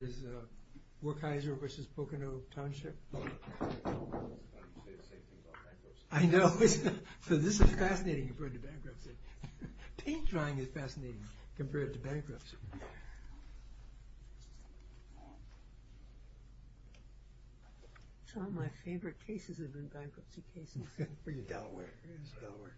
Is Wartheiser v. Pocono Township? I was going to say the same thing about bankruptcy. I know. This is fascinating compared to bankruptcy. Paint drying is fascinating compared to bankruptcy. Some of my favorite cases have been bankruptcy cases. Delaware. It is Delaware.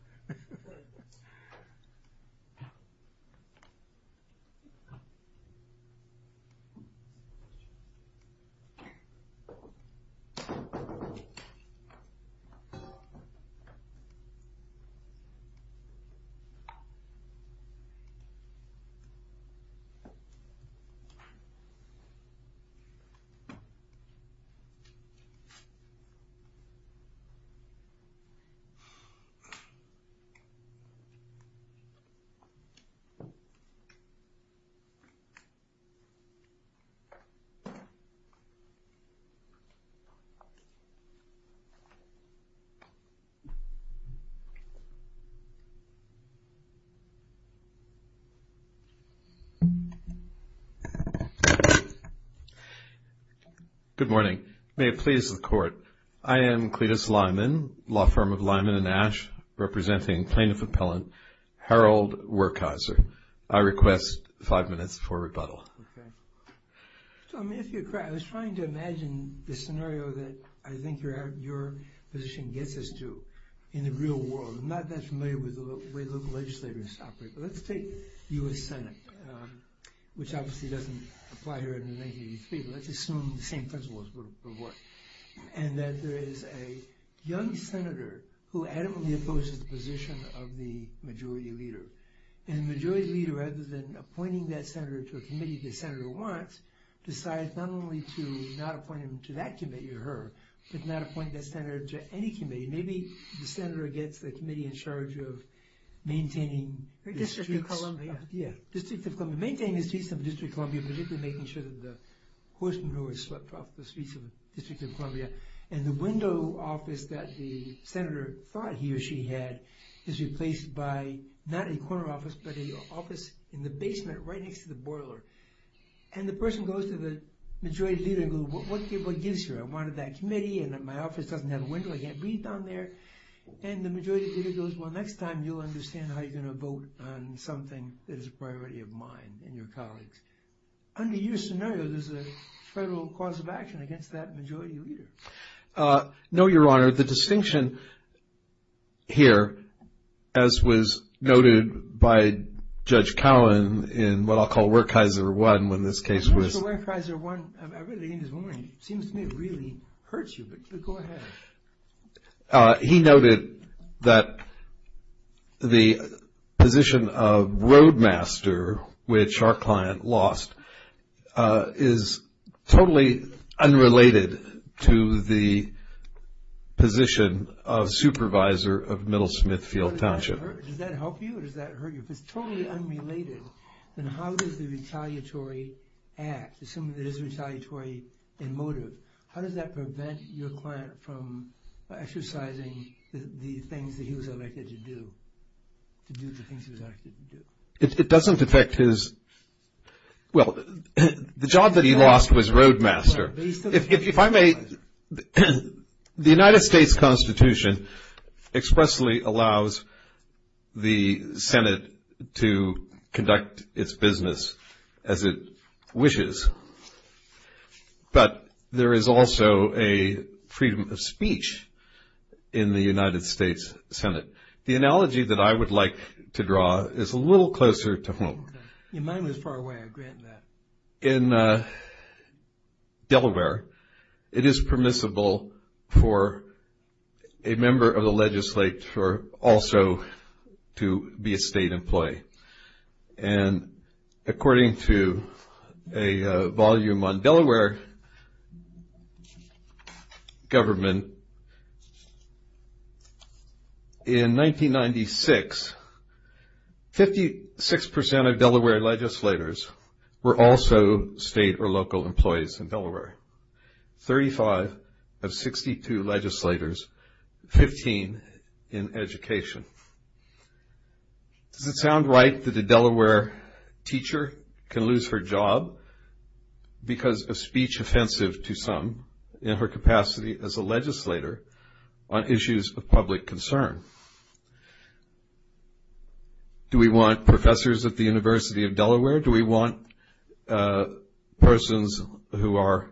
Good morning. May it please the Court, I am Cletus Lyman, law firm of Lyman and Ash, representing Plaintiff Appellant Harold Wartheiser. I request five minutes for rebuttal. Okay. I was trying to imagine the scenario that I think your position gets us to in the real world. I'm not that familiar with the way local legislators operate, but let's take U.S. Senate, which obviously doesn't apply here in 1983, but let's assume the same principles would work, and that there is a young senator who adamantly opposes the position of the majority leader. And the majority leader, rather than appointing that senator to a committee the senator wants, decides not only to not appoint him to that committee or her, but not appoint that senator to any committee. Maybe the senator gets the committee in charge of maintaining the streets. District of Columbia. Yeah, District of Columbia. Maintaining the streets of District of Columbia, particularly making sure that the horse manure is swept off the streets of District of Columbia. And the window office that the senator thought he or she had is replaced by not a corner office, but an office in the basement right next to the boiler. And the person goes to the majority leader and goes, what gives you? I wanted that committee, and my office doesn't have a window, I can't breathe down there. And the majority leader goes, well, next time you'll understand how you're going to vote on something that is a priority of mine and your colleagues. Under your scenario, there's a federal cause of action against that majority leader. No, Your Honor. Your Honor, the distinction here, as was noted by Judge Cowan in what I'll call Werkheiser 1, when this case was. Werkheiser 1, I read it in his warning. It seems to me it really hurts you, but go ahead. He noted that the position of roadmaster, which our client lost, is totally unrelated to the position of supervisor of Middle Smithfield Township. Does that help you or does that hurt you? If it's totally unrelated, then how does the retaliatory act, assuming it is retaliatory in motive, how does that prevent your client from exercising the things that he was elected to do, to do the things he was elected to do? It doesn't affect his. Well, the job that he lost was roadmaster. If I may, the United States Constitution expressly allows the Senate to conduct its business as it wishes, but there is also a freedom of speech in the United States Senate. The analogy that I would like to draw is a little closer to home. Your mind was far away. I grant that. In Delaware, it is permissible for a member of the legislature also to be a state employee. And according to a volume on Delaware government, in 1996, 56% of Delaware legislators were also state or local employees in Delaware. 35 of 62 legislators, 15 in education. Does it sound right that a Delaware teacher can lose her job because of speech offensive to some in her capacity as a legislator on issues of public concern? Do we want professors at the University of Delaware? Do we want persons who are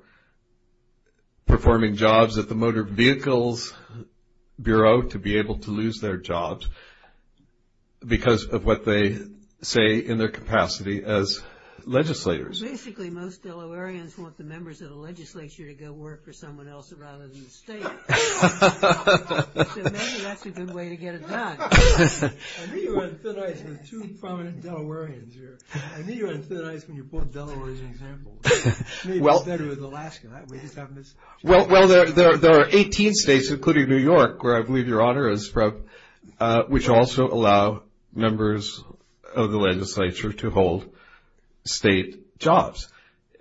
performing jobs at the Motor Vehicles Bureau to be able to lose their jobs because of what they say in their capacity as legislators? Basically, most Delawareans want the members of the legislature to go work for someone else rather than the state. So maybe that's a good way to get it done. I knew you were in thin ice with two prominent Delawareans here. I knew you were in thin ice when you pulled Delaware as an example. Maybe it's better with Alaska. Well, there are 18 states, including New York, where I believe Your Honor is from, which also allow members of the legislature to hold state jobs.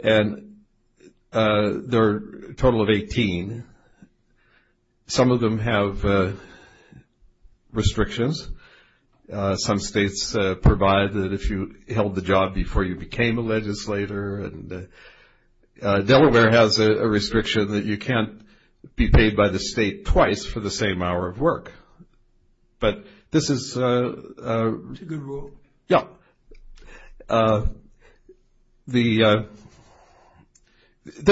And there are a total of 18. Some of them have restrictions. Some states provide that if you held the job before you became a legislator. Delaware has a restriction that you can't be paid by the state twice for the same hour of work. But this is a good rule. Yeah. This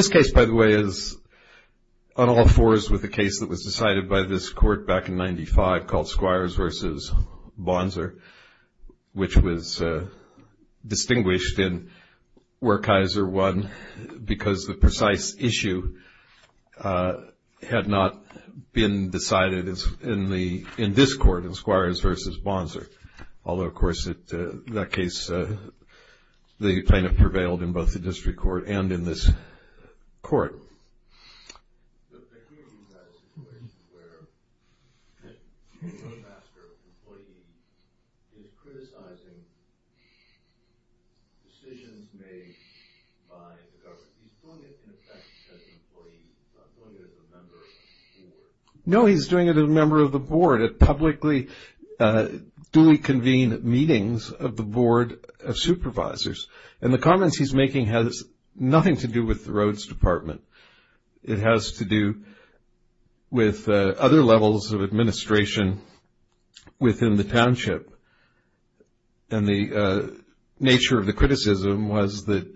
case, by the way, is on all fours with a case that was decided by this court back in 1995 called Squires v. Bonser, which was distinguished in where Kaiser won because the precise issue had not been decided in this court, in Squires v. Bonser. Although, of course, in that case, the plaintiff prevailed in both the district court and in this court. The community has a situation where the roadmaster employee is criticizing decisions made by the government. He's doing it, in effect, as an employee. He's not doing it as a member of the board. No, he's doing it as a member of the board at publicly duly convened meetings of the board of supervisors. And the comments he's making has nothing to do with the roads department. It has to do with other levels of administration within the township. And the nature of the criticism was that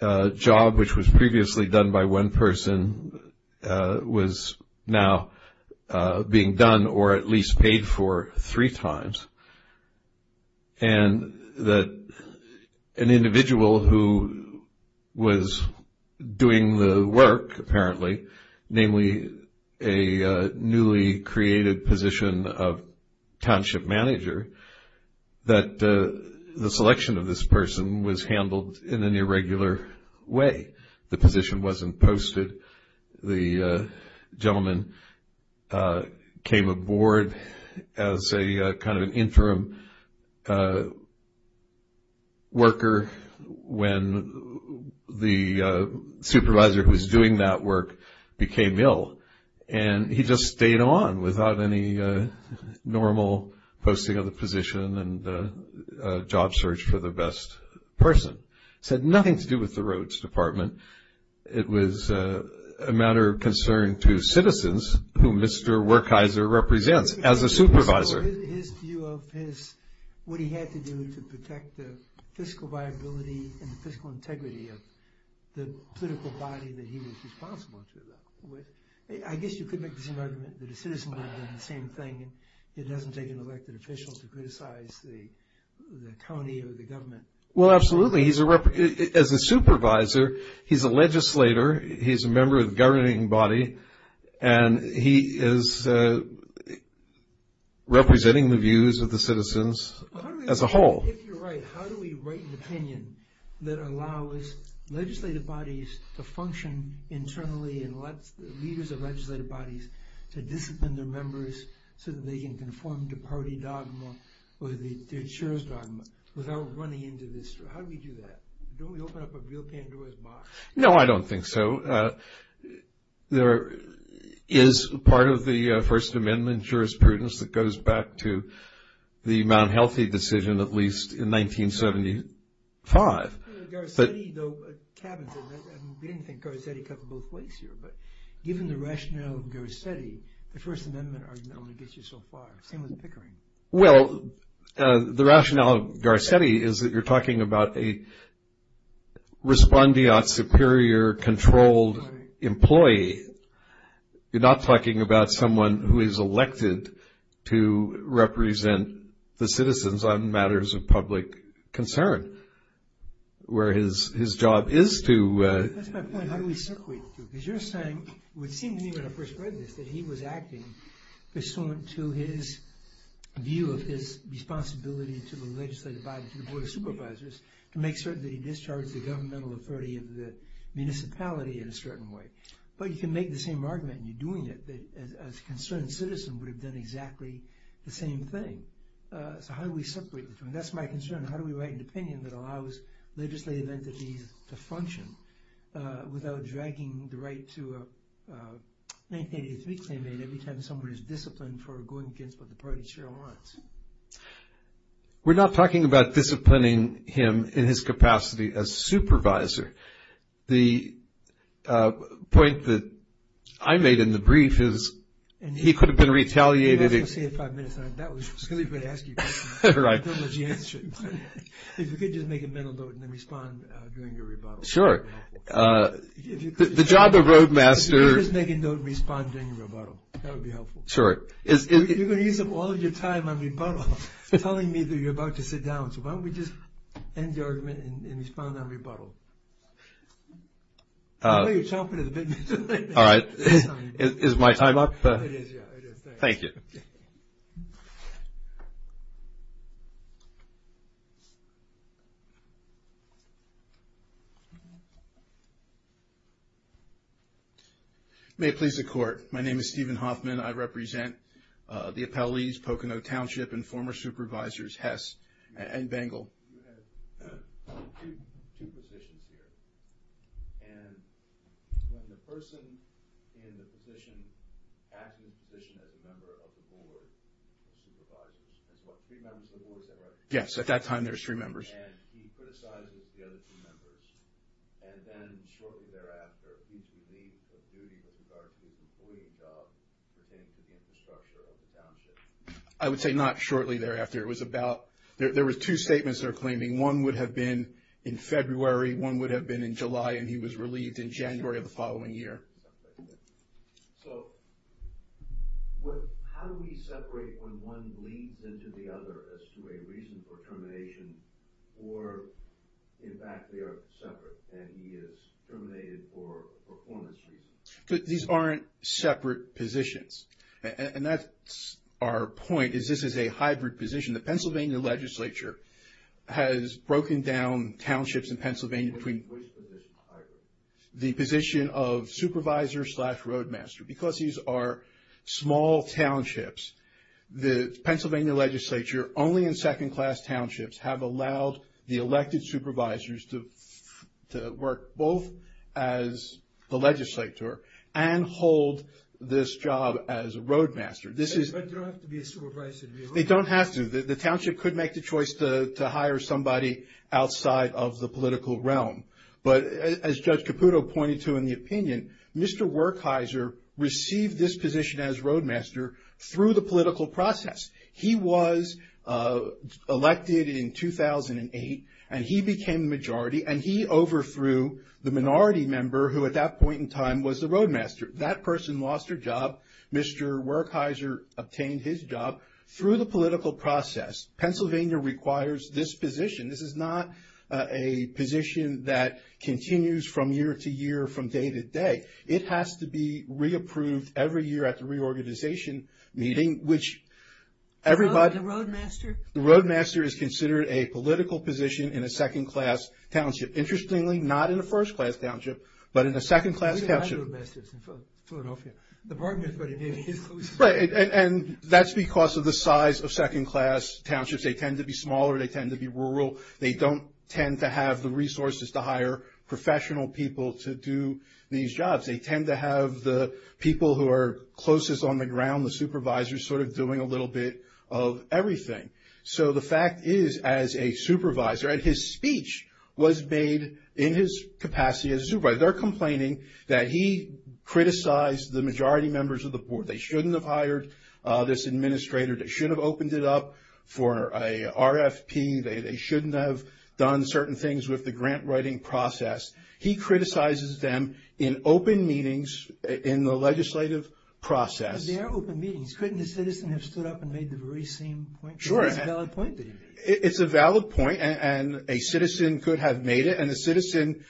a job which was previously done by one person was now being done or at least paid for three times. And that an individual who was doing the work, apparently, namely a newly created position of township manager, that the selection of this person was handled in an irregular way. The position wasn't posted. The gentleman came aboard as a kind of interim worker when the supervisor who was doing that work became ill. And he just stayed on without any normal posting of the position and job search for the best person. This had nothing to do with the roads department. It was a matter of concern to citizens who Mr. Werkheiser represents as a supervisor. His view of what he had to do to protect the fiscal viability and the fiscal integrity of the political body that he was responsible to. I guess you could make the same argument that a citizen would have done the same thing. It doesn't take an elected official to criticize the county or the government. Well, absolutely. As a supervisor, he's a legislator, he's a member of the governing body, and he is representing the views of the citizens as a whole. If you're right, how do we write an opinion that allows legislative bodies to function internally and lets the leaders of legislative bodies to discipline their members so that they can conform to party dogma or the insurer's dogma without running into this? How do we do that? Don't we open up a real Pandora's box? No, I don't think so. There is part of the First Amendment jurisprudence that goes back to the Mount Healthy decision, at least in 1975. Garcetti, though, cabins it. We didn't think Garcetti cut both ways here. But given the rationale of Garcetti, the First Amendment argument gets you so far. Same with Pickering. Well, the rationale of Garcetti is that you're talking about a respondeat superior, controlled employee. You're not talking about someone who is elected to represent the citizens on matters of public concern, whereas his job is to... That's my point. How do we circulate it? Because you're saying, it would seem to me when I first read this, that he was acting pursuant to his view of his responsibility to the legislative body, to the Board of Supervisors, to make certain that he discharged the governmental authority of the municipality in a certain way. But you can make the same argument, and you're doing it, that as a concerned citizen would have done exactly the same thing. So how do we separate the two? And that's my concern. How do we write an opinion that allows legislative entities to function without dragging the right to a 1983 claimant every time someone is disciplined for going against what the party sure wants? We're not talking about disciplining him in his capacity as supervisor. The point that I made in the brief is he could have been retaliated... I was going to say in five minutes. I was going to ask you a question. I don't know that you answered. If you could just make a mental note and then respond during your rebuttal. Sure. The job of Roadmaster... If you could just make a note and respond during your rebuttal. That would be helpful. Sure. You're going to use up all of your time on rebuttal telling me that you're about to sit down. So why don't we just end the argument and respond on rebuttal. I know you're chomping at the bit. All right. Is my time up? It is. Thank you. Thank you. May it please the Court. My name is Stephen Hoffman. I represent the appellees, Pocono Township and former supervisors Hess and Bangle. You have two positions here. And when the person in the position, acting position as a member of the board of supervisors, there's what, three members of the board, is that right? Yes. At that time, there's three members. And he criticizes the other two members. And then shortly thereafter, he's relieved of duty to start his employee job pertaining to the infrastructure of the township. I would say not shortly thereafter. It was about, there were two statements that are claiming one would have been in February, one would have been in July, and he was relieved in January of the following year. So how do we separate when one leads into the other as to a reason for termination or, in fact, they are separate and he is terminated for performance reasons? These aren't separate positions. And that's our point, is this is a hybrid position. The Pennsylvania legislature has broken down townships in Pennsylvania between the position of supervisor slash roadmaster. Because these are small townships, the Pennsylvania legislature, only in second-class townships, have allowed the elected supervisors to work both as the legislature and hold this job as a roadmaster. But they don't have to be a supervisor to be a roadmaster. They don't have to. The township could make the choice to hire somebody outside of the political realm. But as Judge Caputo pointed to in the opinion, Mr. Werkheiser received this position as roadmaster through the political process. He was elected in 2008, and he became majority, and he overthrew the minority member who at that point in time was the roadmaster. That person lost their job. Mr. Werkheiser obtained his job through the political process. Pennsylvania requires this position. This is not a position that continues from year to year, from day to day. It has to be re-approved every year at the reorganization meeting, which everybody... The roadmaster? The roadmaster is considered a political position in a second-class township. Interestingly, not in a first-class township, but in a second-class township. We don't have roadmasters in Philadelphia. The partner is what it is. Right, and that's because of the size of second-class townships. They tend to be smaller. They tend to be rural. They don't tend to have the resources to hire professional people to do these jobs. They tend to have the people who are closest on the ground, the supervisors, sort of doing a little bit of everything. So the fact is, as a supervisor, and his speech was made in his capacity as a supervisor. They're complaining that he criticized the majority members of the board. They shouldn't have hired this administrator. They should have opened it up for an RFP. They shouldn't have done certain things with the grant writing process. He criticizes them in open meetings in the legislative process. But they are open meetings. Couldn't a citizen have stood up and made the very same point? Sure. It's a valid point. It's a valid point, and a citizen could have made it. And a citizen,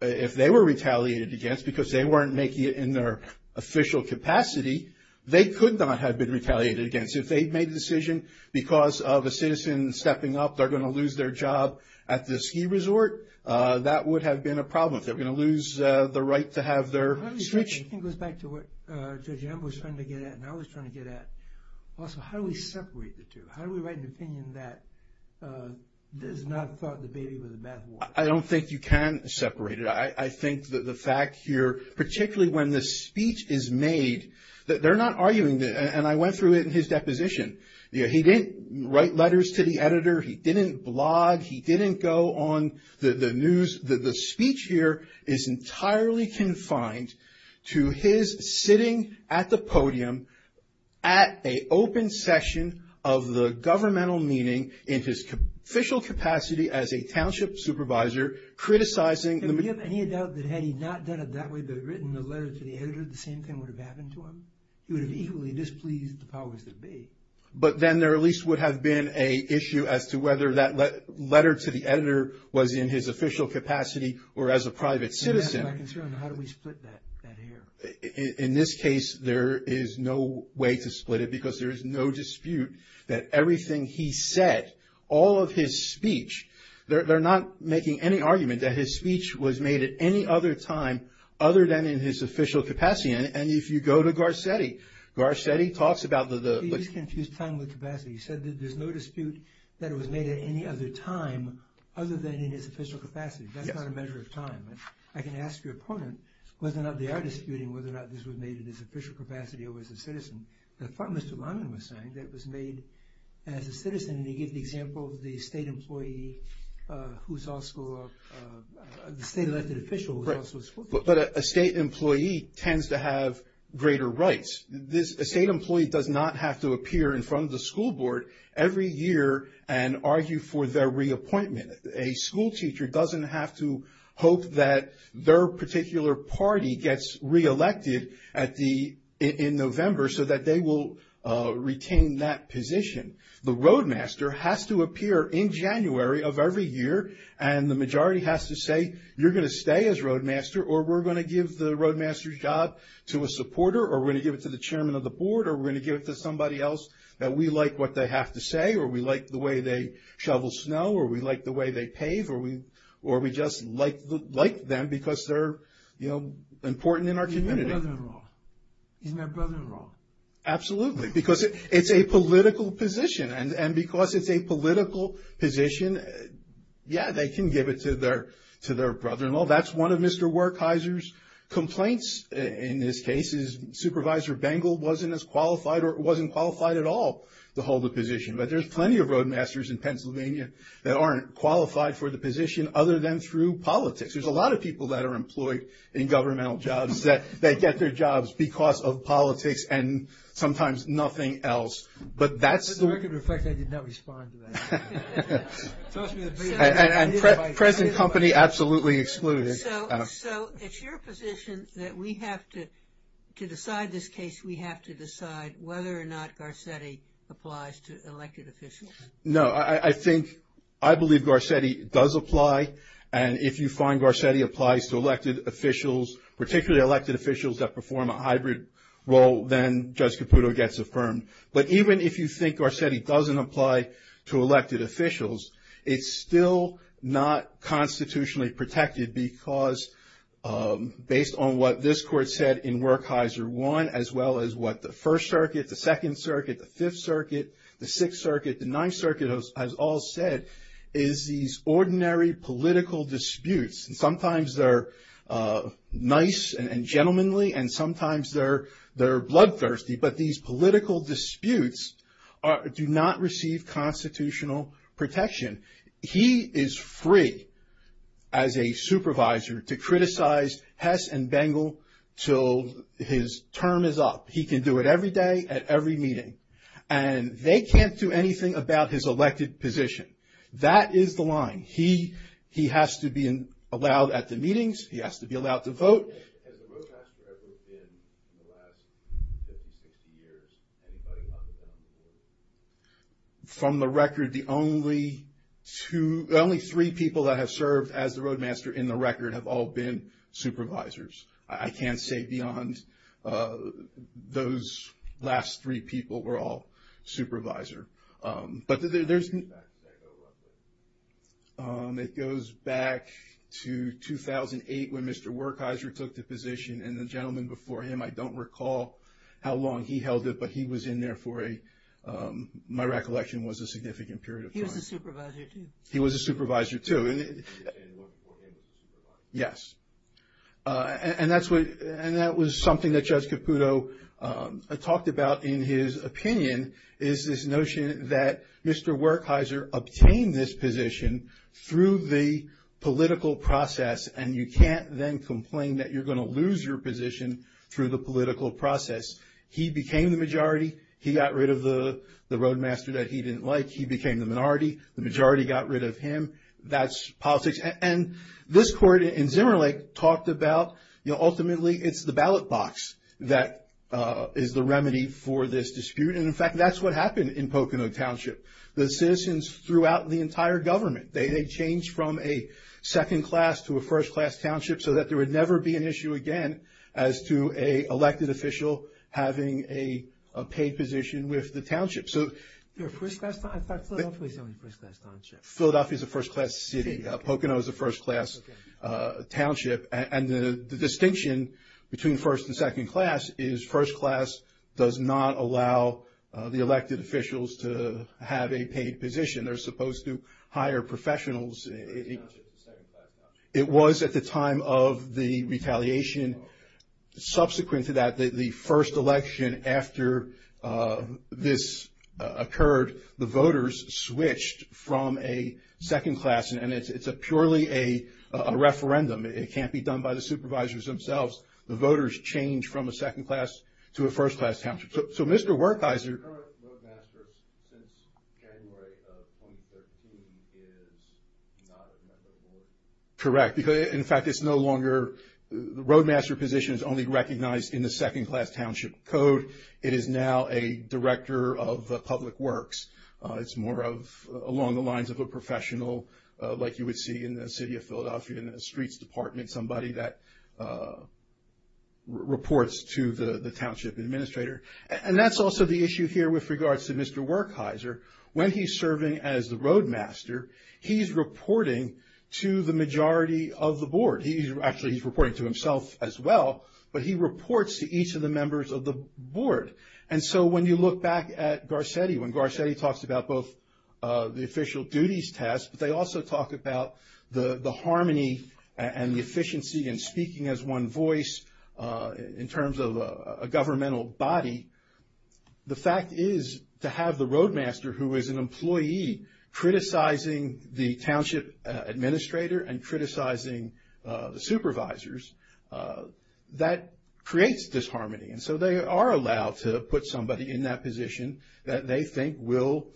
if they were retaliated against because they weren't making it in their official capacity, they could not have been retaliated against. If they'd made the decision because of a citizen stepping up, they're going to lose their job at the ski resort. That would have been a problem. They're going to lose the right to have their switch. It goes back to what Judge Ambo was trying to get at, and I was trying to get at. Also, how do we separate the two? How do we write an opinion that is not thought to be even a bad one? I don't think you can separate it. I think that the fact here, particularly when the speech is made, they're not arguing. And I went through it in his deposition. He didn't write letters to the editor. He didn't blog. He didn't go on the news. The speech here is entirely confined to his sitting at the podium at an open session of the governmental meeting in his official capacity as a township supervisor criticizing the – Do you have any doubt that had he not done it that way but written a letter to the editor, the same thing would have happened to him? He would have equally displeased the powers that be. But then there at least would have been an issue as to whether that letter to the editor was in his official capacity or as a private citizen. And that's my concern. How do we split that here? In this case, there is no way to split it because there is no dispute that everything he said, all of his speech, they're not making any argument that his speech was made at any other time other than in his official capacity. And if you go to Garcetti, Garcetti talks about the – He just confused time with capacity. He said that there's no dispute that it was made at any other time other than in his official capacity. Yes. That's not a measure of time. I can ask your opponent whether or not they are disputing whether or not this was made in his official capacity or as a citizen. Mr. Lyman was saying that it was made as a citizen. And he gave the example of the state employee who's also a – the state elected official was also a – but a state employee tends to have greater rights. A state employee does not have to appear in front of the school board every year and argue for their reappointment. A school teacher doesn't have to hope that their particular party gets reelected in November so that they will retain that position. The roadmaster has to appear in January of every year, and the majority has to say you're going to stay as roadmaster or we're going to give the roadmaster's job to a supporter or we're going to give it to the chairman of the board or we're going to give it to somebody else that we like what they have to say or we like the way they shovel snow or we like the way they pave or we just like them because they're, you know, important in our community. Isn't that brother-in-law? Absolutely. Because it's a political position. And because it's a political position, yeah, they can give it to their brother-in-law. That's one of Mr. Werkheiser's complaints in this case is Supervisor Bengel wasn't as qualified or wasn't qualified at all to hold the position. But there's plenty of roadmasters in Pennsylvania that aren't qualified for the position other than through politics. There's a lot of people that are employed in governmental jobs that get their jobs because of politics and sometimes nothing else. But that's the... It reflects I did not respond to that. Trust me. And present company absolutely excluded. So it's your position that we have to decide this case, we have to decide whether or not Garcetti applies to elected officials. No, I think, I believe Garcetti does apply. And if you find Garcetti applies to elected officials, particularly elected officials that perform a hybrid role, then Judge Caputo gets affirmed. But even if you think Garcetti doesn't apply to elected officials, it's still not constitutionally protected because, based on what this Court said in Werkheiser 1, as well as what the First Circuit, the Second Circuit, the Fifth Circuit, the Sixth Circuit, the Ninth Circuit has all said, is these ordinary political disputes, and sometimes they're nice and gentlemanly and sometimes they're bloodthirsty, but these political disputes do not receive constitutional protection. He is free, as a supervisor, to criticize Hess and Bengel till his term is up. He can do it every day at every meeting. And they can't do anything about his elected position. That is the line. He has to be allowed at the meetings, he has to be allowed to vote. Has the Roadmaster ever been, in the last 50, 60 years, anybody up or down the road? From the record, the only two, the only three people that have served as the Roadmaster in the record have all been supervisors. I can't say beyond those last three people were all supervisor. But there's... It goes back to 2008 when Mr. Werkheiser took the position, and the gentleman before him, I don't recall how long he held it, but he was in there for a, my recollection was a significant period of time. He was a supervisor, too. He was a supervisor, too. And worked for him as a supervisor. Yes. And that was something that Judge Caputo talked about in his opinion, is this notion that Mr. Werkheiser obtained this position through the political process, and you can't then complain that you're going to lose your position through the political process. He became the majority. He got rid of the Roadmaster that he didn't like. He became the minority. The majority got rid of him. That's politics. And this court in Zimmerlich talked about, you know, ultimately it's the ballot box that is the remedy for this dispute. And, in fact, that's what happened in Pocono Township. The citizens throughout the entire government, they changed from a second-class to a first-class township so that there would never be an issue again as to an elected official having a paid position with the township. So... First-class township? I thought Philadelphia was only a first-class township. Philadelphia is a first-class city. Pocono is a first-class township. And the distinction between first and second-class is first-class does not allow the elected officials to have a paid position. They're supposed to hire professionals. It was at the time of the retaliation. Subsequent to that, the first election after this occurred, the voters switched from a second-class, and it's purely a referendum. It can't be done by the supervisors themselves. The voters change from a second-class to a first-class township. So Mr. Wertheiser... The current roadmaster since January of 2013 is not a member of the board. Correct. In fact, it's no longer the roadmaster position is only recognized in the second-class township code. It is now a director of public works. It's more of along the lines of a professional like you would see in the city of Philadelphia in the streets department, somebody that reports to the township administrator. And that's also the issue here with regards to Mr. Wertheiser. When he's serving as the roadmaster, he's reporting to the majority of the board. Actually, he's reporting to himself as well, but he reports to each of the members of the board. And so when you look back at Garcetti, when Garcetti talks about both the official duties test, but they also talk about the harmony and the efficiency in speaking as one voice in terms of a governmental body, the fact is to have the roadmaster who is an employee criticizing the township administrator and criticizing the supervisors, that creates disharmony. And so they are allowed to put somebody in that position that they think will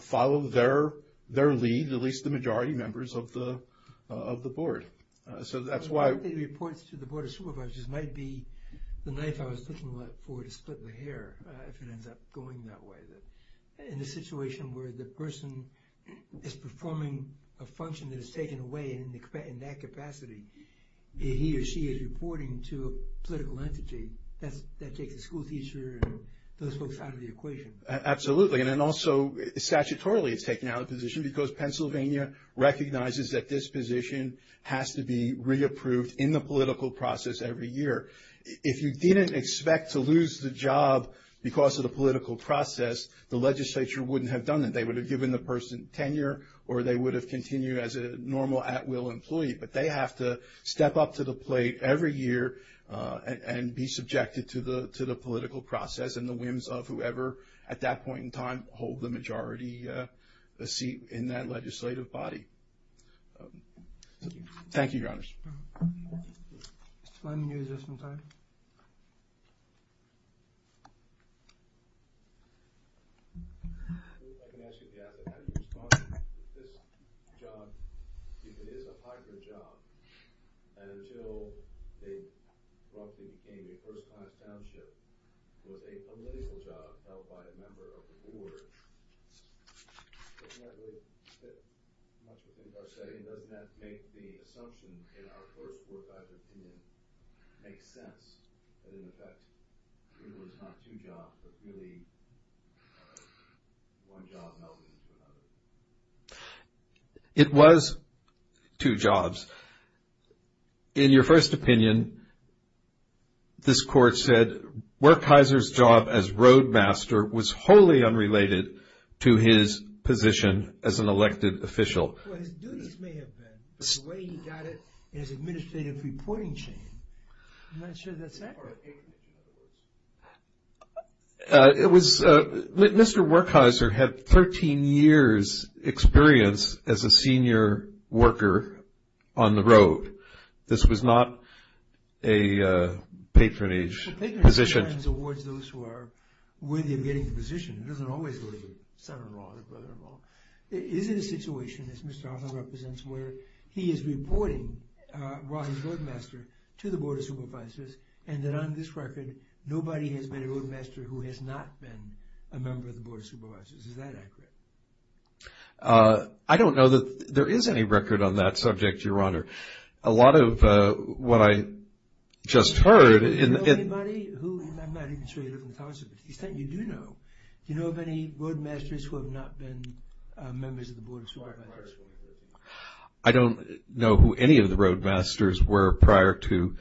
follow their lead, at least the majority members of the board. So that's why... I think reports to the board of supervisors might be the knife I was looking for to split the hair if it ends up going that way. In a situation where the person is performing a function that is taken away in that capacity, he or she is reporting to a political entity. That takes the schoolteacher and those folks out of the equation. Absolutely. And then also statutorily it's taken out of position because Pennsylvania recognizes that this position has to be reapproved in the political process every year. If you didn't expect to lose the job because of the political process, the legislature wouldn't have done that. They would have given the person tenure or they would have continued as a normal at-will employee, but they have to step up to the plate every year and be subjected to the political process and the whims of whoever at that point in time hold the majority seat in that legislative body. Thank you, Your Honors. Mr. Fleming, you had just one time. Thank you. If I can ask you if you have the kind of response to this job, if it is a hybrid job, and until they roughly became a first-class township with a political job held by a member of the board, Doesn't that make the assumption in our first four or five opinions make sense, that in effect it was not two jobs but really one job melded into another? It was two jobs. In your first opinion, this court said, Workhyser's job as roadmaster was wholly unrelated to his position as an elected official. Well, his duties may have been, but the way he got it in his administrative reporting chain, I'm not sure that's accurate. Mr. Workhyser had 13 years' experience as a senior worker on the road. This was not a patronage position. Patronage sometimes awards those who are worthy of getting the position. It doesn't always go to son-in-law or brother-in-law. Is it a situation, as Mr. Arthur represents, where he is reporting Rahi's roadmaster to the board of supervisors, and that on this record nobody has been a roadmaster who has not been a member of the board of supervisors? Is that accurate? I don't know that there is any record on that subject, Your Honor. A lot of what I just heard— Do you know anybody who—I'm not even sure you live in Towson, but to the extent you do know, do you know of any roadmasters who have not been members of the board of supervisors? I don't know who any of the roadmasters were prior to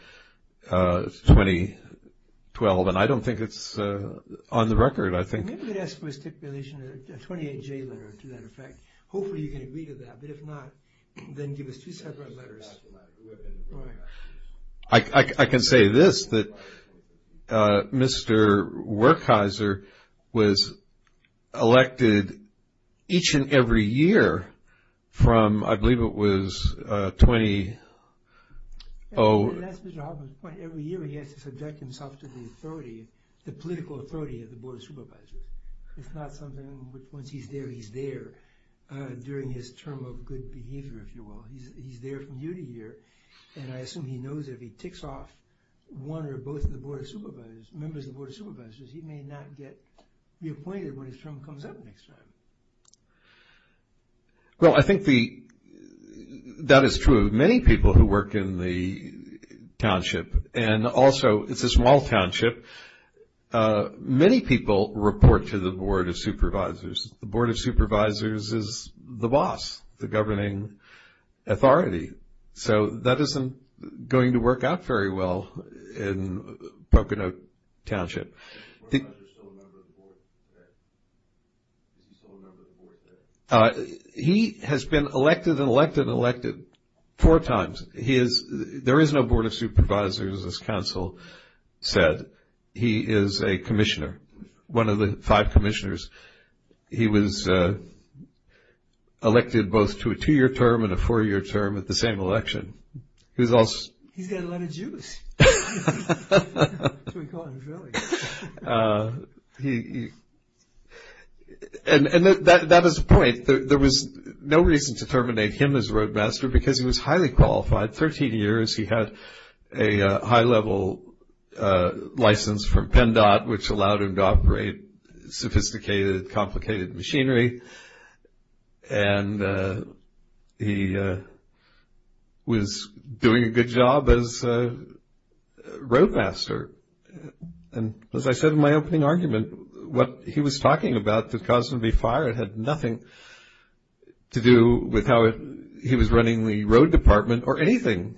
2012, and I don't think it's on the record, I think. Maybe we could ask for a stipulation, a 28-J letter to that effect. Hopefully you can agree to that, but if not, then give us two separate letters. I can say this, that Mr. Werkheiser was elected each and every year from, I believe it was 20— That's Mr. Hoffman's point. Every year he has to subject himself to the authority, the political authority of the board of supervisors. It's not something that once he's there, he's there during his term of good behavior, if you will. He's there from year to year, and I assume he knows if he ticks off one or both of the board of supervisors, members of the board of supervisors, he may not get reappointed when his term comes up next time. Well, I think that is true. Many people who work in the township, and also it's a small township, many people report to the board of supervisors. The board of supervisors is the boss, the governing authority, so that isn't going to work out very well in Pocono Township. Is the board of supervisors still a member of the board today? Is he still a member of the board today? He has been elected and elected and elected four times. There is no board of supervisors, as counsel said. He is a commissioner, one of the five commissioners. He was elected both to a two-year term and a four-year term at the same election. He's got a lot of juice. And that is the point. There was no reason to terminate him as roadmaster because he was highly qualified. Thirteen years, he had a high-level license from PennDOT, which allowed him to operate sophisticated, complicated machinery, and he was doing a good job as roadmaster. And as I said in my opening argument, what he was talking about that caused him to be fired had nothing to do with how he was running the road department or anything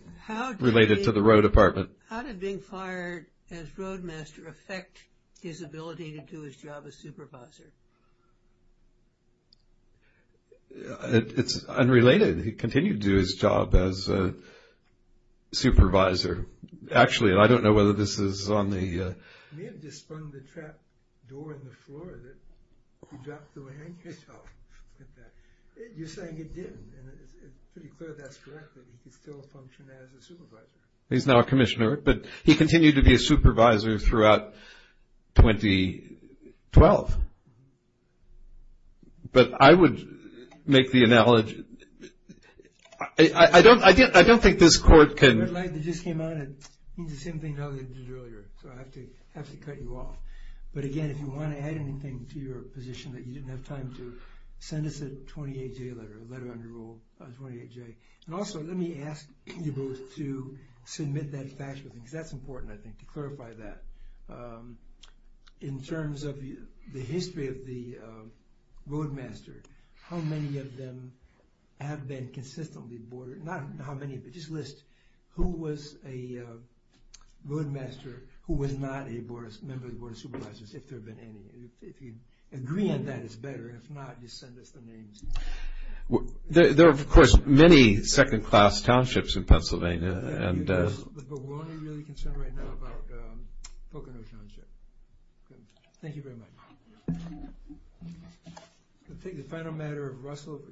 related to the road department. How did being fired as roadmaster affect his ability to do his job as supervisor? It's unrelated. He continued to do his job as supervisor. Actually, I don't know whether this is on the… You may have just spun the trap door in the floor that you dropped the handkerchief. You're saying it didn't, and it's pretty clear that's correct, that he could still function as a supervisor. He's now a commissioner, but he continued to be a supervisor throughout 2012. But I would make the analogy… I don't think this court can… The red light that just came on, it means the same thing as earlier, so I have to cut you off. But again, if you want to add anything to your position that you didn't have time to, send us a 28-J letter, a letter under Rule 28-J. And also, let me ask you both to submit that factual thing, because that's important, I think, to clarify that. In terms of the history of the roadmaster, how many of them have been consistently boarded? Just list who was a roadmaster who was not a member of the Board of Supervisors, if there have been any. If you agree on that, it's better. If not, just send us the names. There are, of course, many second-class townships in Pennsylvania. But we're only really concerned right now about Pocono Township. Thank you very much.